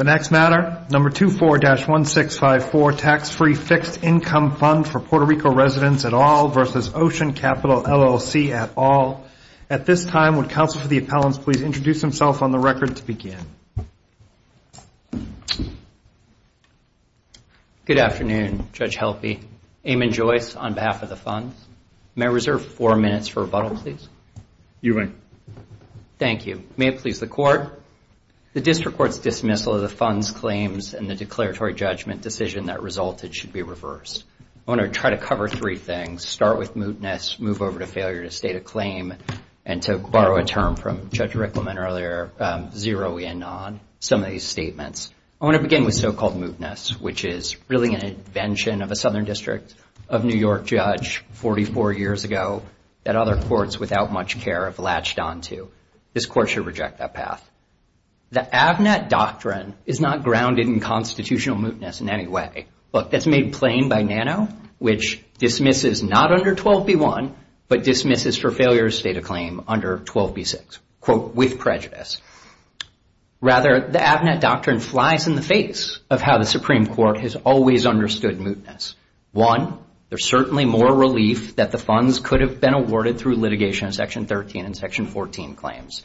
Number 24-1654, Tax-Free Fixed Income Fund for Puerto Rico Residents, Inc. v. Ocean Capital LLC, at all. At this time, would counsel for the appellants please introduce themselves on the record to begin. Good afternoon, Judge Helpe. Eamon Joyce, on behalf of the funds. May I reserve four minutes for rebuttal, please? You may. Thank you. May it please the Court. The District Court's dismissal of the funds claims and the declaratory judgment decision that resulted should be reversed. I want to try to cover three things. Start with mootness, move over to failure to state a claim, and to borrow a term from Judge Rickleman earlier, zero in on some of these statements. I want to begin with so-called mootness, which is really an invention of a Southern District of New York judge 44 years ago that other courts without much care have latched onto. This Court should reject that path. The Avnet Doctrine is not grounded in constitutional mootness in any way. Look, that's made plain by NANO, which dismisses not under 12b-1, but dismisses for failure to state a claim under 12b-6, quote, with prejudice. Rather, the Avnet Doctrine flies in the face of how the Supreme Court has always understood mootness. One, there's certainly more relief that the funds could have been awarded through litigation of Section 13 and Section 14 claims.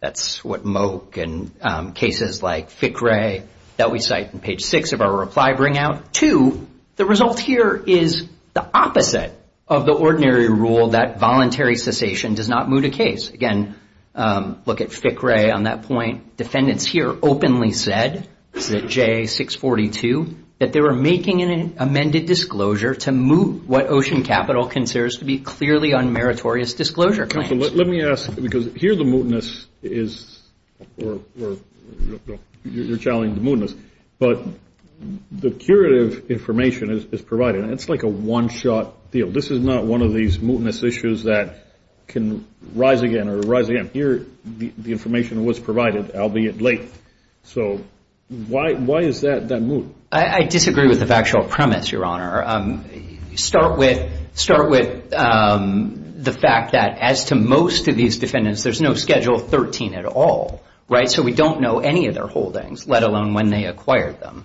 That's what Moak and cases like FICRE that we cite on page 6 of our reply bring out. Two, the result here is the opposite of the ordinary rule that voluntary cessation does not moot a case. Again, look at FICRE on that point. Defendants here openly said, J-642, that they were making an amended disclosure to moot what Ocean Capital considers to be clearly unmeritorious disclosure claims. Let me ask, because here the mootness is, or you're challenging the mootness, but the curative information is provided. It's like a one-shot deal. This is not one of these mootness issues that can rise again or rise again. Here the information was provided, albeit late. So why is that moot? I disagree with the factual premise, Your Honor. Start with the fact that as to most of these defendants, there's no Schedule 13 at all. So we don't know any of their holdings, let alone when they acquired them.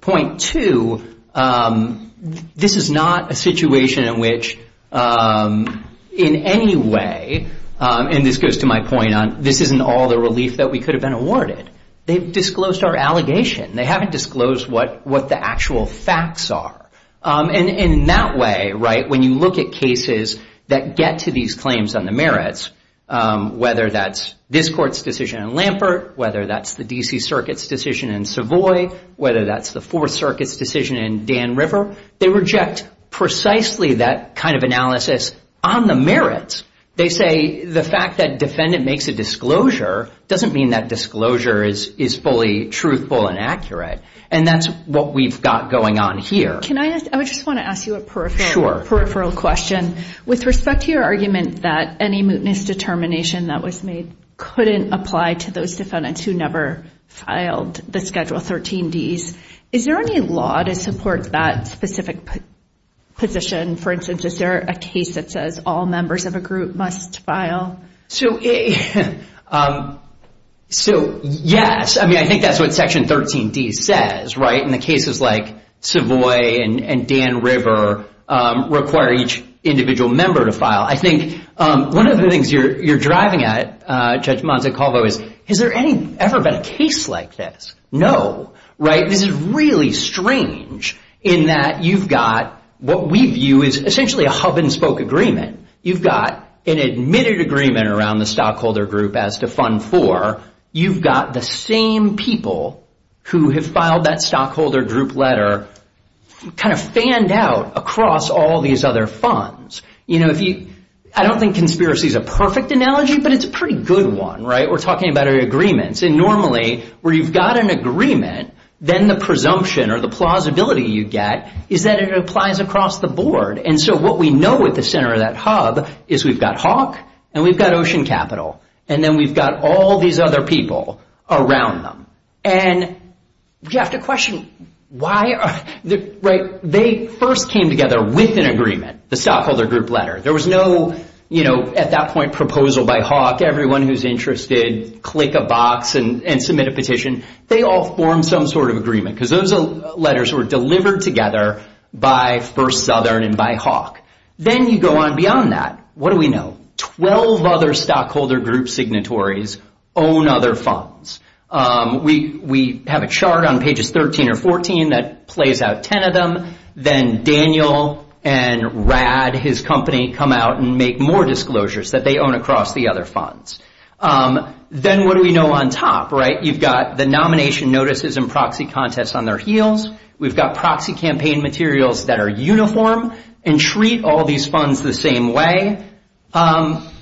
Point two, this is not a situation in which in any way, and this goes to my point on this isn't all the relief that we could have been awarded. They've disclosed our allegation. They haven't disclosed what the actual facts are. And in that way, right, when you look at cases that get to these claims on the merits, whether that's this Court's decision in Lampert, whether that's the D.C. Circuit's decision in Savoy, whether that's the Fourth Circuit's decision in Dan River, they reject precisely that kind of analysis on the merits. They say the fact that defendant makes a disclosure doesn't mean that disclosure is fully truthful and accurate. And that's what we've got going on here. Can I ask, I just want to ask you a peripheral question. With respect to your argument that any mootness determination that was made couldn't apply to those defendants who never filed the Schedule 13Ds, is there any law to support that specific position? For instance, is there a case that says all members of a group must file? So, yes. I mean, I think that's what Section 13D says, right, and the cases like Savoy and Dan River require each individual member to file. I think one of the things you're driving at, Judge Montecalvo, is has there ever been a case like this? No. No, right? This is really strange in that you've got what we view is essentially a hub-and-spoke agreement. You've got an admitted agreement around the stockholder group as to Fund 4. You've got the same people who have filed that stockholder group letter kind of fanned out across all these other funds. You know, I don't think conspiracy is a perfect analogy, but it's a pretty good one, right? We're talking about agreements. And normally, where you've got an agreement, then the presumption or the plausibility you get is that it applies across the board. And so what we know at the center of that hub is we've got Hawk and we've got Ocean Capital, and then we've got all these other people around them. And you have to question why, right? They first came together with an agreement, the stockholder group letter. There was no, you know, at that point, proposal by Hawk. Everyone who's interested, click a box and submit a petition. They all formed some sort of agreement because those letters were delivered together by First Southern and by Hawk. Then you go on beyond that. What do we know? Twelve other stockholder group signatories own other funds. We have a chart on pages 13 or 14 that plays out ten of them. Then Daniel and Rad, his company, come out and make more disclosures that they own across the other funds. Then what do we know on top, right? You've got the nomination notices and proxy contests on their heels. We've got proxy campaign materials that are uniform and treat all these funds the same way.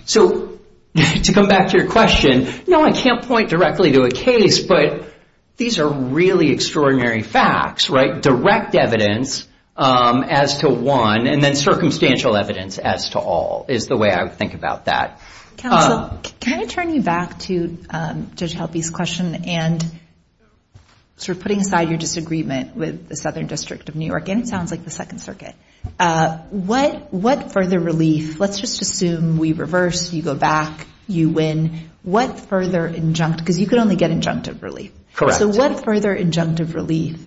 So to come back to your question, no, I can't point directly to a case, but these are really extraordinary facts, right? Direct evidence as to one and then circumstantial evidence as to all is the way I would think about that. Counsel, can I turn you back to Judge Helpe's question and sort of putting aside your disagreement with the Southern District of New York, and it sounds like the Second Circuit, what further relief, let's just assume we reverse, you go back, you win, what further injunct, because you could only get injunctive relief. Correct. So what further injunctive relief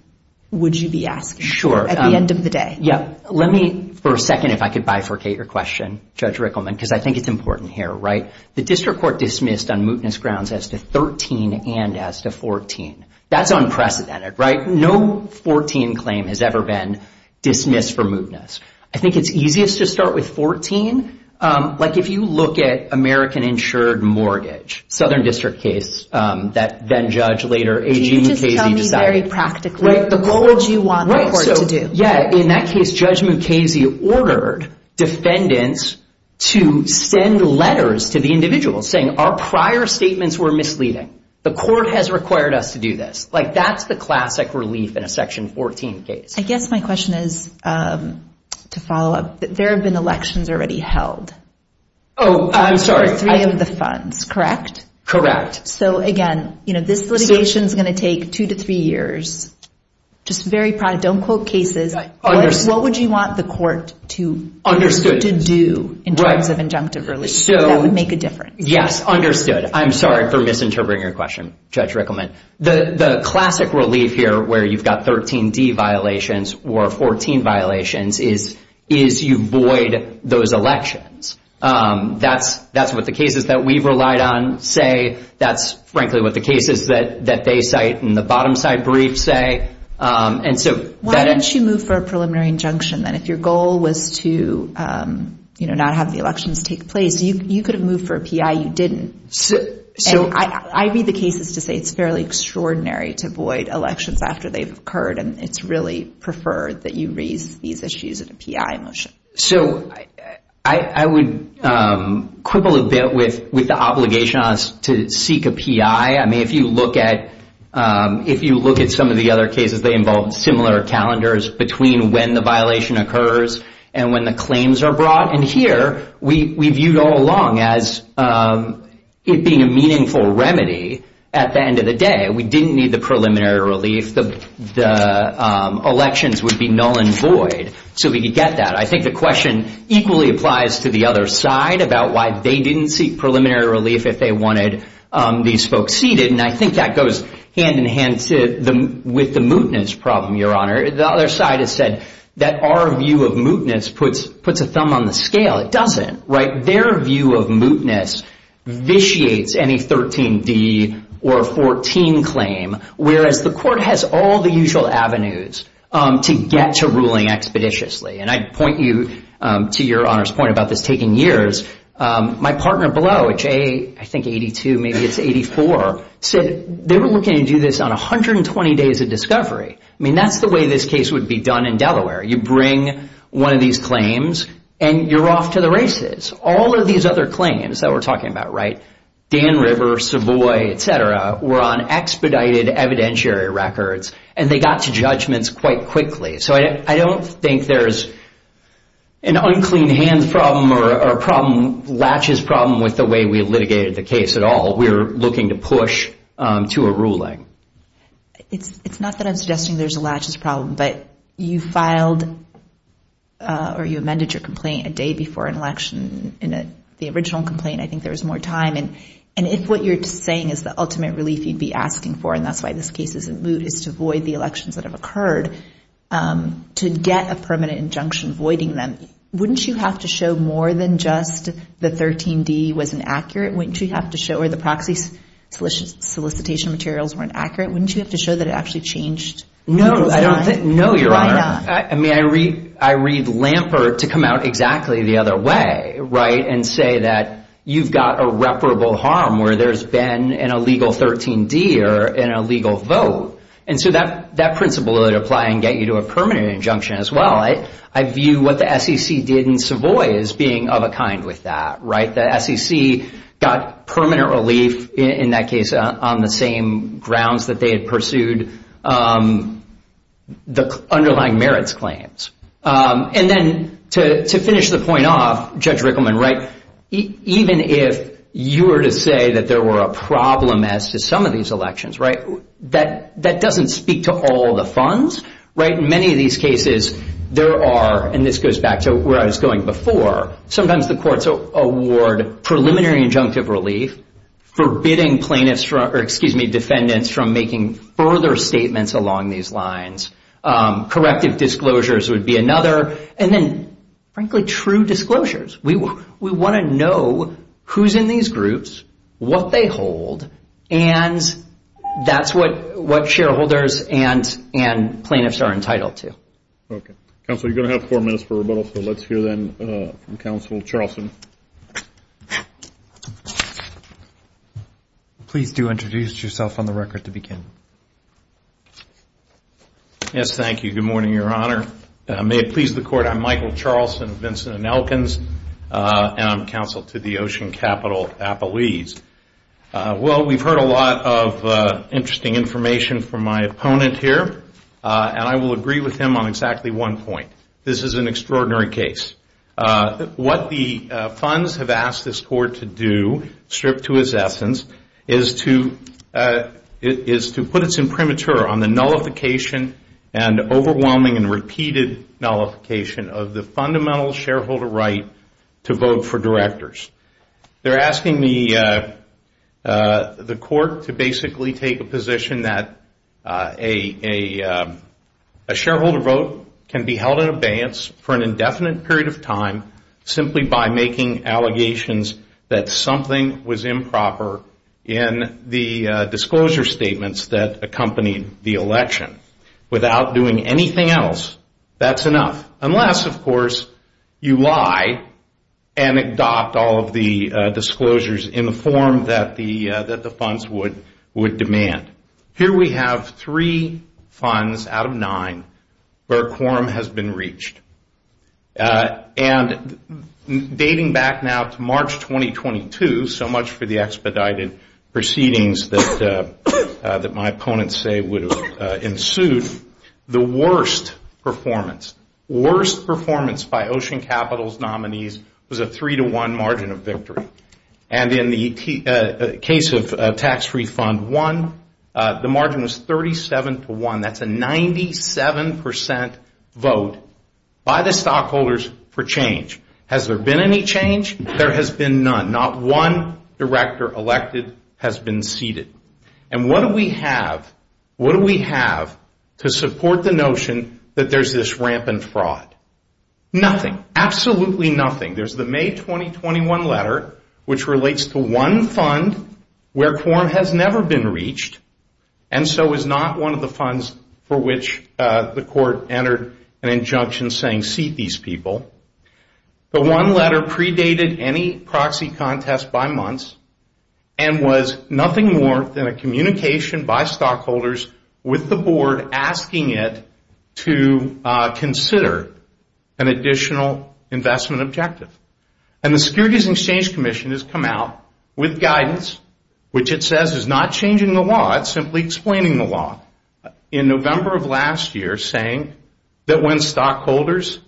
would you be asking for at the end of the day? Let me for a second, if I could bifurcate your question, Judge Rickleman, because I think it's important here, right? The district court dismissed on mootness grounds as to 13 and as to 14. That's unprecedented, right? No 14 claim has ever been dismissed for mootness. I think it's easiest to start with 14. Like if you look at American insured mortgage, Southern District case, that then-judge later, A.G. Mukasey decided. Can you just tell me very practically what would you want the court to do? Yeah, in that case, Judge Mukasey ordered defendants to send letters to the individual saying, our prior statements were misleading. The court has required us to do this. Like that's the classic relief in a Section 14 case. I guess my question is to follow up. There have been elections already held. Oh, I'm sorry. For three of the funds, correct? So again, this litigation is going to take two to three years. Just very, don't quote cases. What would you want the court to do in terms of injunctive relief? That would make a difference. Yes, understood. I'm sorry for misinterpreting your question, Judge Rickleman. The classic relief here where you've got 13D violations or 14 violations is you void those elections. That's what the cases that we've relied on say. That's, frankly, what the cases that they cite in the bottom-side briefs say. Why don't you move for a preliminary injunction then? If your goal was to not have the elections take place, you could have moved for a P.I. You didn't. I read the cases to say it's fairly extraordinary to void elections after they've occurred, and it's really preferred that you raise these issues in a P.I. motion. So I would quibble a bit with the obligation on us to seek a P.I. I mean, if you look at some of the other cases, they involve similar calendars between when the violation occurs and when the claims are brought. And here we viewed all along as it being a meaningful remedy at the end of the day. We didn't need the preliminary relief. The elections would be null and void so we could get that. I think the question equally applies to the other side about why they didn't seek preliminary relief if they wanted these folks seated, and I think that goes hand-in-hand with the mootness problem, Your Honor. The other side has said that our view of mootness puts a thumb on the scale. It doesn't, right? Their view of mootness vitiates any 13D or 14 claim, whereas the court has all the usual avenues to get to ruling expeditiously. And I'd point you to Your Honor's point about this taking years. My partner below, which I think 82, maybe it's 84, said they were looking to do this on 120 days of discovery. I mean, that's the way this case would be done in Delaware. You bring one of these claims and you're off to the races. All of these other claims that we're talking about, right, Dan River, Savoy, et cetera, were on expedited evidentiary records and they got to judgments quite quickly. So I don't think there's an unclean hands problem or a problem, latches problem with the way we litigated the case at all. We're looking to push to a ruling. It's not that I'm suggesting there's a latches problem, but you filed or you amended your complaint a day before an election. In the original complaint, I think there was more time. And if what you're saying is the ultimate relief you'd be asking for, and that's why this case is in moot, is to void the elections that have occurred, to get a permanent injunction voiding them, wouldn't you have to show more than just the 13D was inaccurate? Wouldn't you have to show where the proxy solicitation materials weren't accurate? Wouldn't you have to show that it actually changed? No. No, Your Honor. Why not? I mean, I read Lampert to come out exactly the other way, right, and say that you've got irreparable harm where there's been an illegal 13D or an illegal vote. And so that principle would apply and get you to a permanent injunction as well. I view what the SEC did in Savoy as being of a kind with that, right? The SEC got permanent relief in that case on the same grounds that they had pursued the underlying merits claims. And then to finish the point off, Judge Rickleman, right, even if you were to say that there were a problem as to some of these elections, right, that doesn't speak to all the funds, right? In many of these cases there are, and this goes back to where I was going before, sometimes the courts award preliminary injunctive relief, forbidding plaintiffs or, excuse me, defendants from making further statements along these lines. Corrective disclosures would be another. And then, frankly, true disclosures. We want to know who's in these groups, what they hold, and that's what shareholders and plaintiffs are entitled to. Okay. Counsel, you're going to have four minutes for rebuttal, so let's hear then from Counsel Charlson. Please do introduce yourself on the record to begin. Yes, thank you. Good morning, Your Honor. May it please the Court, I'm Michael Charlson, Vincent and Elkins, and I'm counsel to the Ocean Capital Appalese. Well, we've heard a lot of interesting information from my opponent here, and I will agree with him on exactly one point. This is an extraordinary case. What the funds have asked this Court to do, stripped to its essence, is to put its imprimatur on the nullification and overwhelming and repeated nullification of the fundamental shareholder right to vote for directors. They're asking the Court to basically take a position that a shareholder vote can be held in abeyance for an indefinite period of time simply by making allegations that something was improper in the disclosure statements that accompanied the election. Without doing anything else, that's enough, unless, of course, you lie and adopt all of the disclosures in the form that the funds would demand. Here we have three funds out of nine where a quorum has been reached. And dating back now to March 2022, so much for the expedited proceedings that my opponents say would have ensued, the worst performance, worst performance by Ocean Capital's nominees was a three-to-one margin of victory. And in the case of Tax-Free Fund 1, the margin was 37-to-1. That's a 97 percent vote by the stockholders for change. Has there been any change? There has been none. Not one director elected has been seated. And what do we have to support the notion that there's this rampant fraud? Nothing, absolutely nothing. There's the May 2021 letter which relates to one fund where quorum has never been reached and so is not one of the funds for which the court entered an injunction saying seat these people. The one letter predated any proxy contest by months and was nothing more than a communication by stockholders with the board asking it to consider an additional investment objective. And the Securities and Exchange Commission has come out with guidance which it says is not changing the law, it's simply explaining the law. In November of last year saying that when stockholders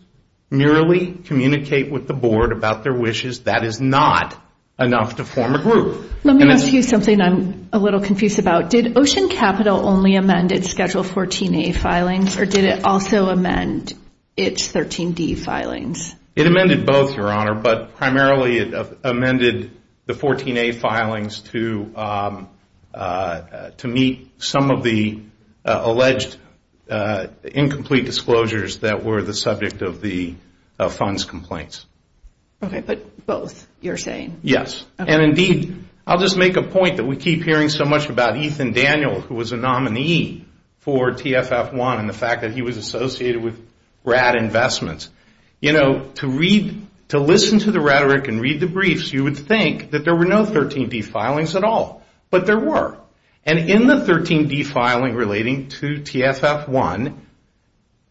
merely communicate with the board about their wishes, that is not enough to form a group. Let me ask you something I'm a little confused about. Did Ocean Capital only amend its Schedule 14-A filings or did it also amend its 13-D filings? It amended both, Your Honor, but primarily it amended the 14-A filings to meet some of the alleged incomplete disclosures that were the subject of the fund's complaints. Okay, but both, you're saying? Yes, and indeed, I'll just make a point that we keep hearing so much about Ethan Daniel who was a nominee for TFF1 and the fact that he was associated with RAD Investments. You know, to read, to listen to the rhetoric and read the briefs, you would think that there were no 13-D filings at all, but there were. And in the 13-D filing relating to TFF1,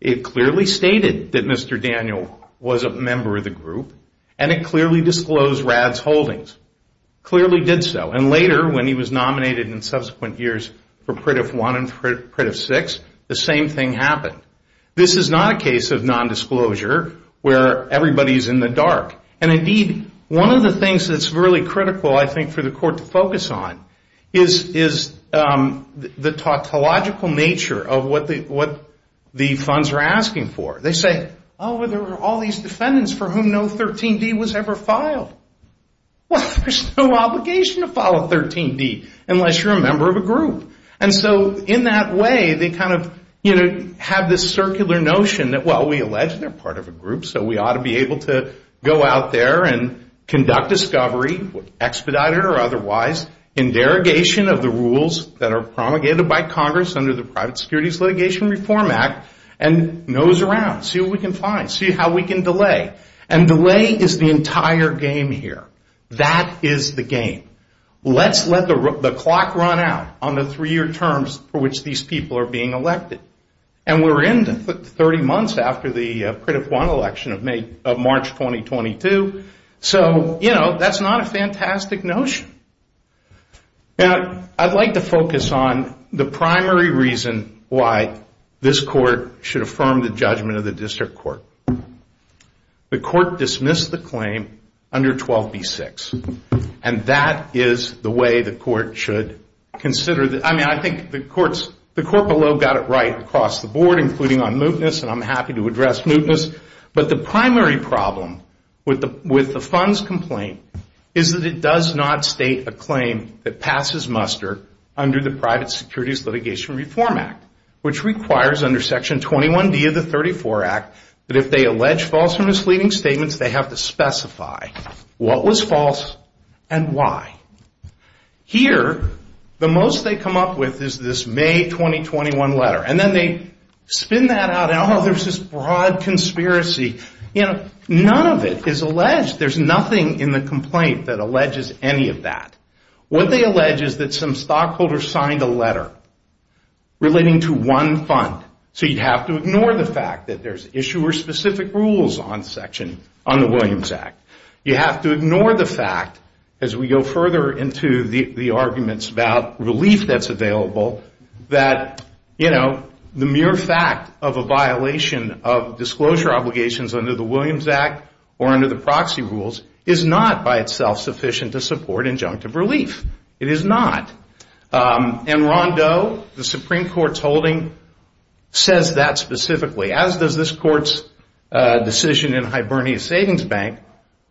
it clearly stated that Mr. Daniel was a member of the group and it clearly disclosed RAD's holdings, clearly did so. And later, when he was nominated in subsequent years for TFF1 and TFF6, the same thing happened. This is not a case of nondisclosure where everybody is in the dark. And indeed, one of the things that's really critical, I think, for the Court to focus on is the tautological nature of what the funds are asking for. They say, oh, well, there are all these defendants for whom no 13-D was ever filed. Well, there's no obligation to file a 13-D unless you're a member of a group. And so in that way, they kind of have this circular notion that, well, we allege they're part of a group, so we ought to be able to go out there and conduct discovery, expedited or otherwise, in derogation of the rules that are promulgated by Congress under the Private Securities Litigation Reform Act and nose around, see what we can find, see how we can delay. And delay is the entire game here. That is the game. Let's let the clock run out on the three-year terms for which these people are being elected. And we're in the 30 months after the Critter 1 election of March 2022. So, you know, that's not a fantastic notion. Now, I'd like to focus on the primary reason why this court should affirm the judgment of the district court. The court dismissed the claim under 12b-6. And that is the way the court should consider it. I mean, I think the court below got it right across the board, including on mootness, and I'm happy to address mootness. But the primary problem with the funds complaint is that it does not state a claim that passes muster under the Private Securities Litigation Reform Act, which requires under Section 21d of the 34 Act that if they allege false or misleading statements, they have to specify what was false and why. Here, the most they come up with is this May 2021 letter. And then they spin that out, and, oh, there's this broad conspiracy. You know, none of it is alleged. There's nothing in the complaint that alleges any of that. What they allege is that some stockholders signed a letter relating to one fund. So you'd have to ignore the fact that there's issuer-specific rules on the Williams Act. You have to ignore the fact, as we go further into the arguments about relief that's available, that, you know, the mere fact of a violation of disclosure obligations under the Williams Act or under the proxy rules is not by itself sufficient to support injunctive relief. It is not. And Ron Doe, the Supreme Court's holding, says that specifically, as does this Court's decision in Hibernia Savings Bank,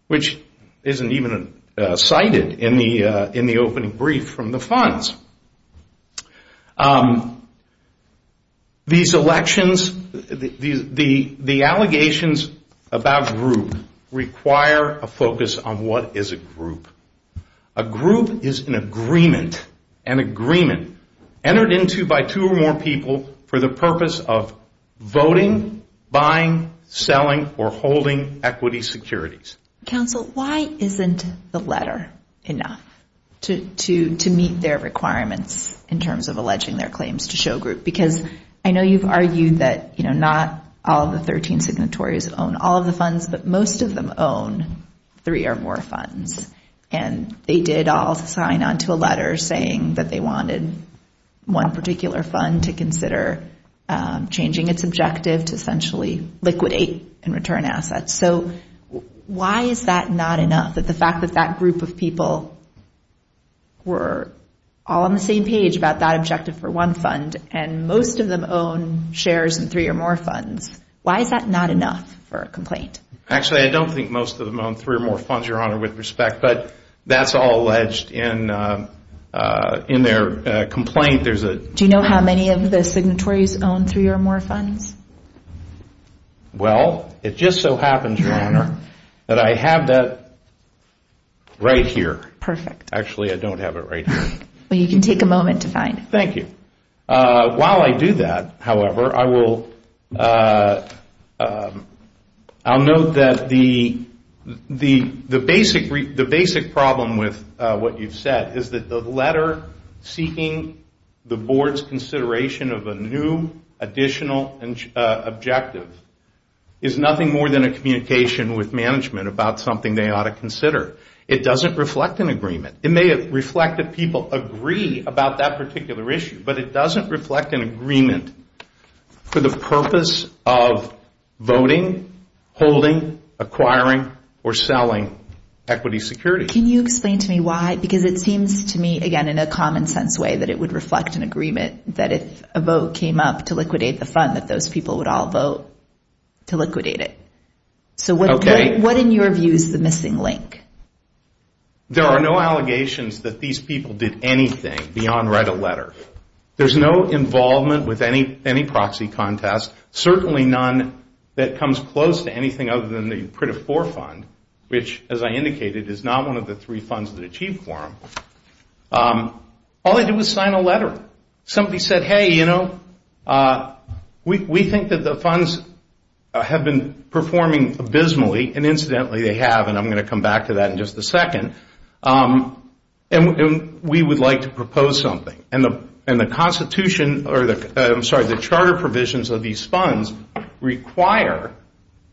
which isn't even cited in the opening brief from the funds. These elections, the allegations about group require a focus on what is a group. A group is an agreement, an agreement entered into by two or more people for the purpose of voting, buying, selling, or holding equity securities. Counsel, why isn't the letter enough to meet their requirements in terms of alleging their claims to show group? Because I know you've argued that, you know, not all of the 13 signatories own all of the funds, but most of them own three or more funds. And they did all sign on to a letter saying that they wanted one particular fund to consider changing its objective to essentially liquidate and return assets. So why is that not enough, that the fact that that group of people were all on the same page about that objective for one fund, and most of them own shares in three or more funds? Why is that not enough for a complaint? Actually, I don't think most of them own three or more funds, Your Honor, with respect. But that's all alleged in their complaint. Do you know how many of the signatories own three or more funds? Well, it just so happens, Your Honor, that I have that right here. Actually, I don't have it right here. Well, you can take a moment to find it. Thank you. While I do that, however, I will note that the basic problem with what you've said is that the letter seeking the board's consideration of a new additional objective is nothing more than a communication with management about something they ought to consider. It doesn't reflect an agreement. It may reflect that people agree about that particular issue, but it doesn't reflect an agreement for the purpose of voting, holding, acquiring, or selling equity securities. Can you explain to me why? Because it seems to me, again, in a common sense way, that it would reflect an agreement that if a vote came up to liquidate the fund, that those people would all vote to liquidate it. So what in your view is the missing link? There are no allegations that these people did anything beyond write a letter. There's no involvement with any proxy contest, certainly none that comes close to anything other than the Pritifor Fund, which, as I indicated, is not one of the three funds that achieved for them. All they did was sign a letter. Somebody said, hey, you know, we think that the funds have been performing abysmally, and incidentally they have, and I'm going to come back to that in just a second, and we would like to propose something. And the charter provisions of these funds require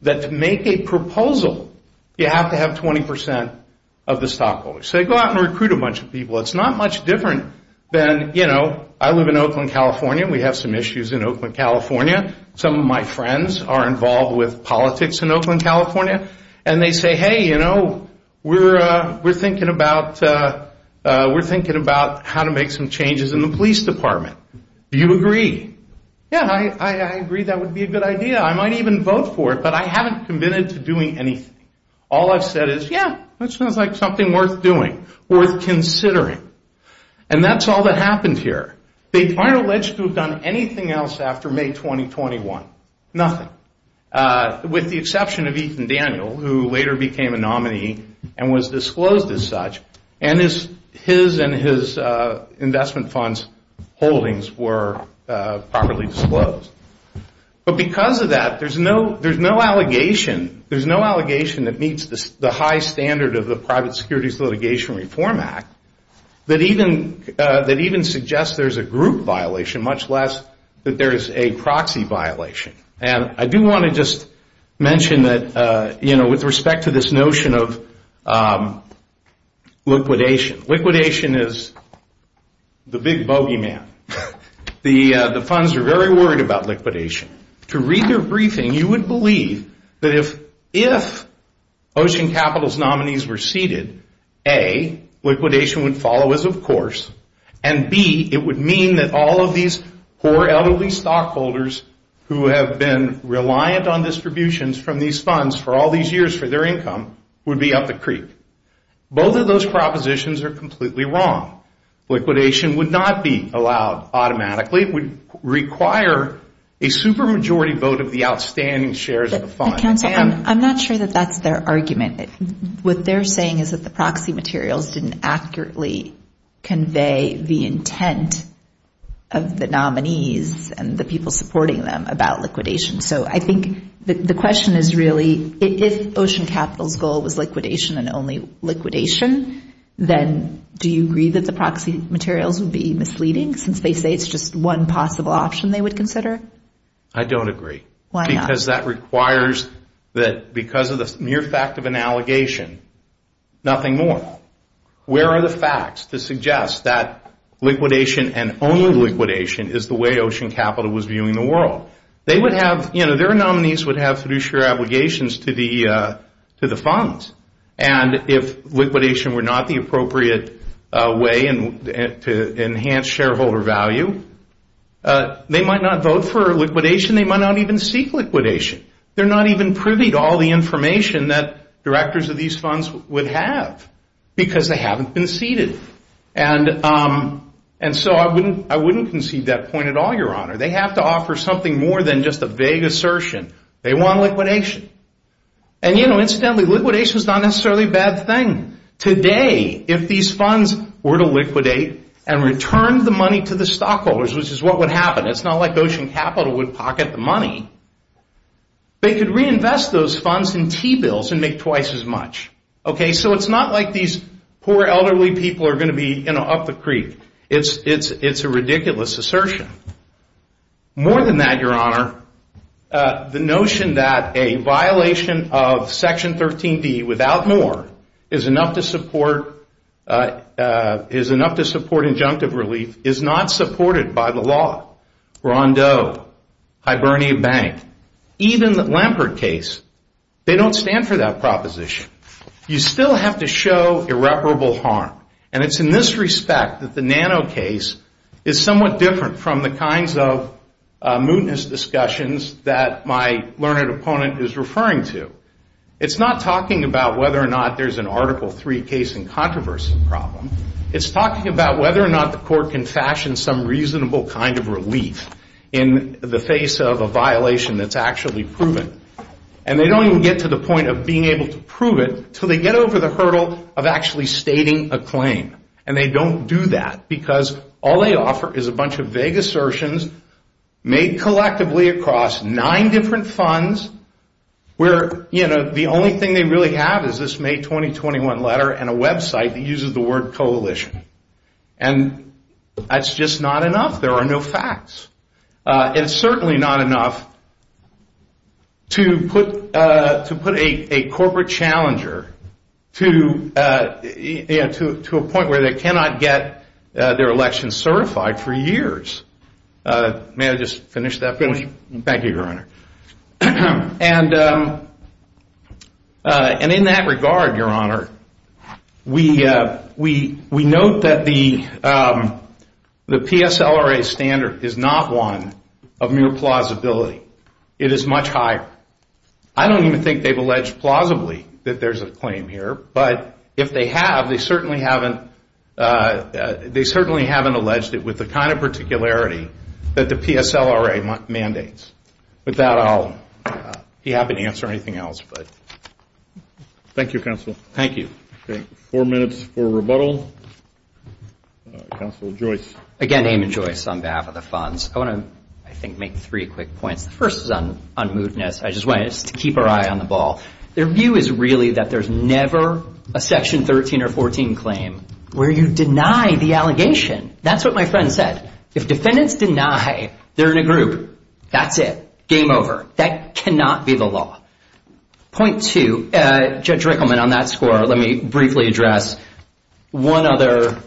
that to make a proposal, you have to have 20% of the stockholders. So you go out and recruit a bunch of people. It's not much different than, you know, I live in Oakland, California. We have some issues in Oakland, California. Some of my friends are involved with politics in Oakland, California, and they say, hey, you know, we're thinking about how to make some changes in the police department. Do you agree? Yeah, I agree that would be a good idea. I might even vote for it, but I haven't committed to doing anything. All I've said is, yeah, that sounds like something worth doing, worth considering. And that's all that happened here. They aren't alleged to have done anything else after May 2021, nothing, with the exception of Ethan Daniel, who later became a nominee and was disclosed as such, and his investment funds holdings were properly disclosed. But because of that, there's no allegation that meets the high standard of the much less that there is a proxy violation. And I do want to just mention that, you know, with respect to this notion of liquidation, liquidation is the big bogeyman. The funds are very worried about liquidation. To read their briefing, you would believe that if Ocean Capital's nominees were seated, A, liquidation would follow as of course, and B, it would mean that all of these poor, elderly stockholders who have been reliant on distributions from these funds for all these years for their income would be up the creek. Both of those propositions are completely wrong. Liquidation would not be allowed automatically. It would require a super majority vote of the outstanding shares of the fund. Counsel, I'm not sure that that's their argument. What they're saying is that the proxy materials didn't accurately convey the intent of the nominees and the people supporting them about liquidation. So I think the question is really, if Ocean Capital's goal was liquidation and only liquidation, then do you agree that the proxy materials would be misleading, since they say it's just one possible option they would consider? I don't agree. Why not? Because that requires that because of the mere fact of an allegation, nothing more. Where are the facts to suggest that liquidation and only liquidation is the way Ocean Capital was viewing the world? Their nominees would have fiduciary obligations to the funds, and if liquidation were not the appropriate way to enhance shareholder value, they might not vote for liquidation. They might not even seek liquidation. They're not even privy to all the information that directors of these funds would have because they haven't been seated. And so I wouldn't concede that point at all, Your Honor. They have to offer something more than just a vague assertion. They want liquidation. And, you know, incidentally, liquidation is not necessarily a bad thing. Today, if these funds were to liquidate and return the money to the stockholders, which is what would happen, it's not like Ocean Capital would pocket the money. They could reinvest those funds in T-bills and make twice as much. Okay, so it's not like these poor elderly people are going to be up the creek. It's a ridiculous assertion. More than that, Your Honor, the notion that a violation of Section 13B without more is enough to support injunctive relief is not supported by the law. Rondeau, Hibernia Bank, even the Lampert case, they don't stand for that proposition. You still have to show irreparable harm. And it's in this respect that the Nano case is somewhat different from the kinds of mootness discussions that my learned opponent is referring to. It's not talking about whether or not there's an Article III case in controversy problem. It's talking about whether or not the court can fashion some reasonable kind of relief in the face of a violation that's actually proven. And they don't even get to the point of being able to prove it until they get over the hurdle of actually stating a claim. And they don't do that because all they offer is a bunch of vague assertions made collectively across nine different funds where the only thing they really have is this May 2021 letter and a website that uses the word coalition. And that's just not enough. There are no facts. It's certainly not enough to put a corporate challenger to a point where they cannot get their election certified for years. May I just finish that point? Thank you, Your Honor. And in that regard, Your Honor, we note that the PSLRA standard is not one of mere plausibility. It is much higher. I don't even think they've alleged plausibly that there's a claim here. But if they have, they certainly haven't alleged it with the kind of particularity that the PSLRA mandates. With that, I'll be happy to answer anything else. Thank you, Counsel. Thank you. Four minutes for rebuttal. Counsel, Joyce. Again, Eamon Joyce on behalf of the funds. I want to, I think, make three quick points. The first is on unmovedness. I just want us to keep our eye on the ball. Their view is really that there's never a Section 13 or 14 claim where you deny the allegation. That's what my friend said. If defendants deny they're in a group, that's it. Game over. That cannot be the law. Point two, Judge Rickleman, on that score, let me briefly address. One other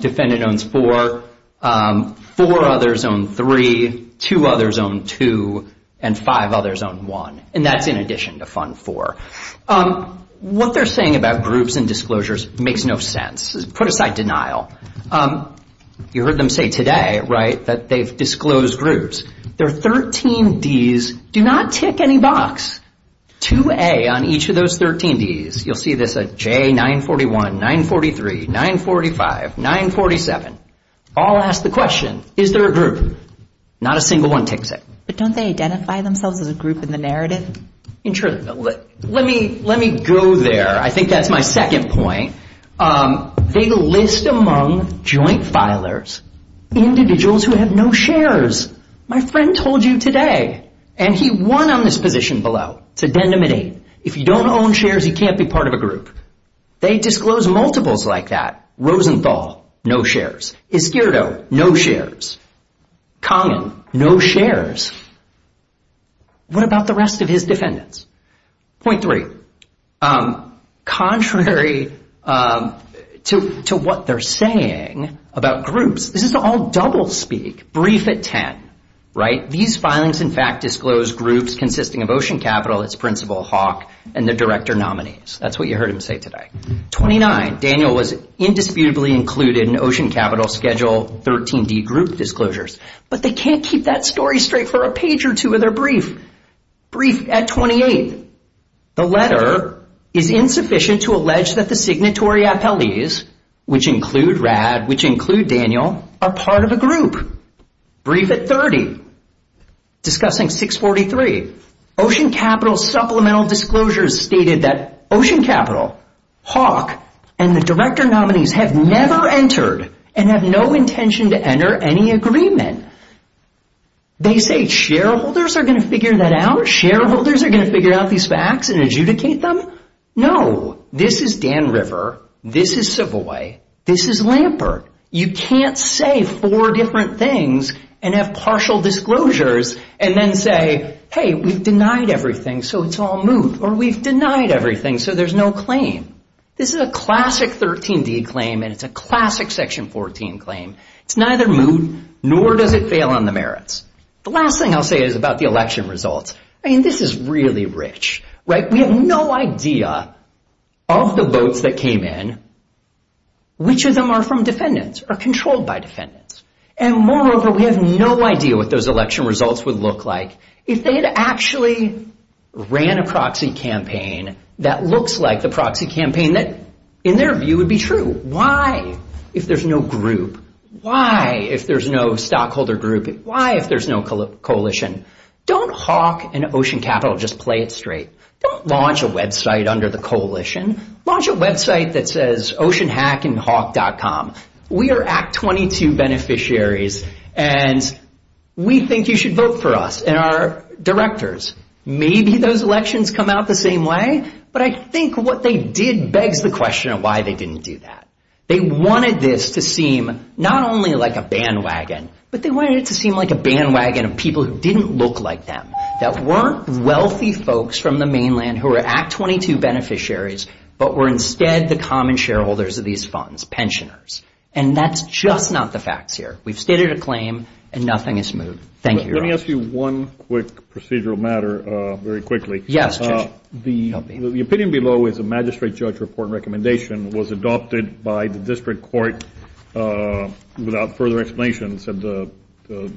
defendant owns four. Four others own three. Two others own two. And five others own one. And that's in addition to fund four. What they're saying about groups and disclosures makes no sense. Put aside denial. You heard them say today, right, that they've disclosed groups. Their 13 Ds do not tick any box. 2A on each of those 13 Ds, you'll see this, J941, 943, 945, 947, all ask the question, is there a group? Not a single one ticks it. But don't they identify themselves as a group in the narrative? Let me go there. I think that's my second point. They list among joint filers individuals who have no shares. My friend told you today. And he won on this position below. It's addendum 8. If you don't own shares, you can't be part of a group. They disclose multiples like that. Rosenthal, no shares. Iscardo, no shares. Kangen, no shares. What about the rest of his defendants? Point three. Contrary to what they're saying about groups, this is all doublespeak, brief at 10, right? These filings, in fact, disclose groups consisting of Ocean Capital, its principal, Hawk, and the director nominees. That's what you heard him say today. 29, Daniel was indisputably included in Ocean Capital Schedule 13D group disclosures. But they can't keep that story straight for a page or two of their brief. Brief at 28. The letter is insufficient to allege that the signatory appellees, which include Rad, which include Daniel, are part of a group. Brief at 30. Discussing 643. Ocean Capital supplemental disclosures stated that Ocean Capital, Hawk, and the director nominees have never entered and have no intention to enter any agreement. They say shareholders are going to figure that out? Shareholders are going to figure out these facts and adjudicate them? No. This is Dan River. This is Savoy. This is Lampert. You can't say four different things and have partial disclosures and then say, hey, we've denied everything, so it's all moot, or we've denied everything, so there's no claim. This is a classic 13D claim, and it's a classic Section 14 claim. It's neither moot nor does it fail on the merits. The last thing I'll say is about the election results. I mean, this is really rich, right? We have no idea of the votes that came in. Which of them are from defendants or controlled by defendants? And moreover, we have no idea what those election results would look like if they had actually ran a proxy campaign that looks like the proxy campaign that, in their view, would be true. Why, if there's no group? Why, if there's no stockholder group? Why, if there's no coalition? Don't Hawk and Ocean Capital just play it straight. Don't launch a website under the coalition. Launch a website that says OceanHackandHawk.com. We are Act 22 beneficiaries, and we think you should vote for us and our directors. Maybe those elections come out the same way, but I think what they did begs the question of why they didn't do that. They wanted this to seem not only like a bandwagon, but they wanted it to seem like a bandwagon of people who didn't look like them, that weren't wealthy folks from the mainland who were Act 22 beneficiaries, but were instead the common shareholders of these funds, pensioners. And that's just not the facts here. We've stated a claim, and nothing has moved. Thank you. Let me ask you one quick procedural matter very quickly. Yes, Judge. The opinion below is a magistrate judge report recommendation was adopted by the district court without further explanation. It said the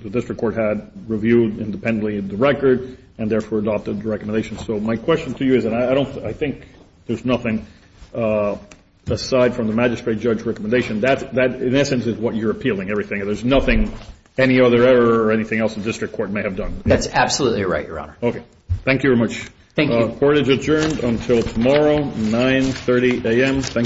district court had reviewed independently the record and therefore adopted the recommendation. So my question to you is that I think there's nothing aside from the magistrate judge recommendation. That, in essence, is what you're appealing, everything. There's nothing, any other error or anything else the district court may have done. That's absolutely right, Your Honor. Okay. Thank you very much. Thank you. Court is adjourned until tomorrow, 9.30 a.m.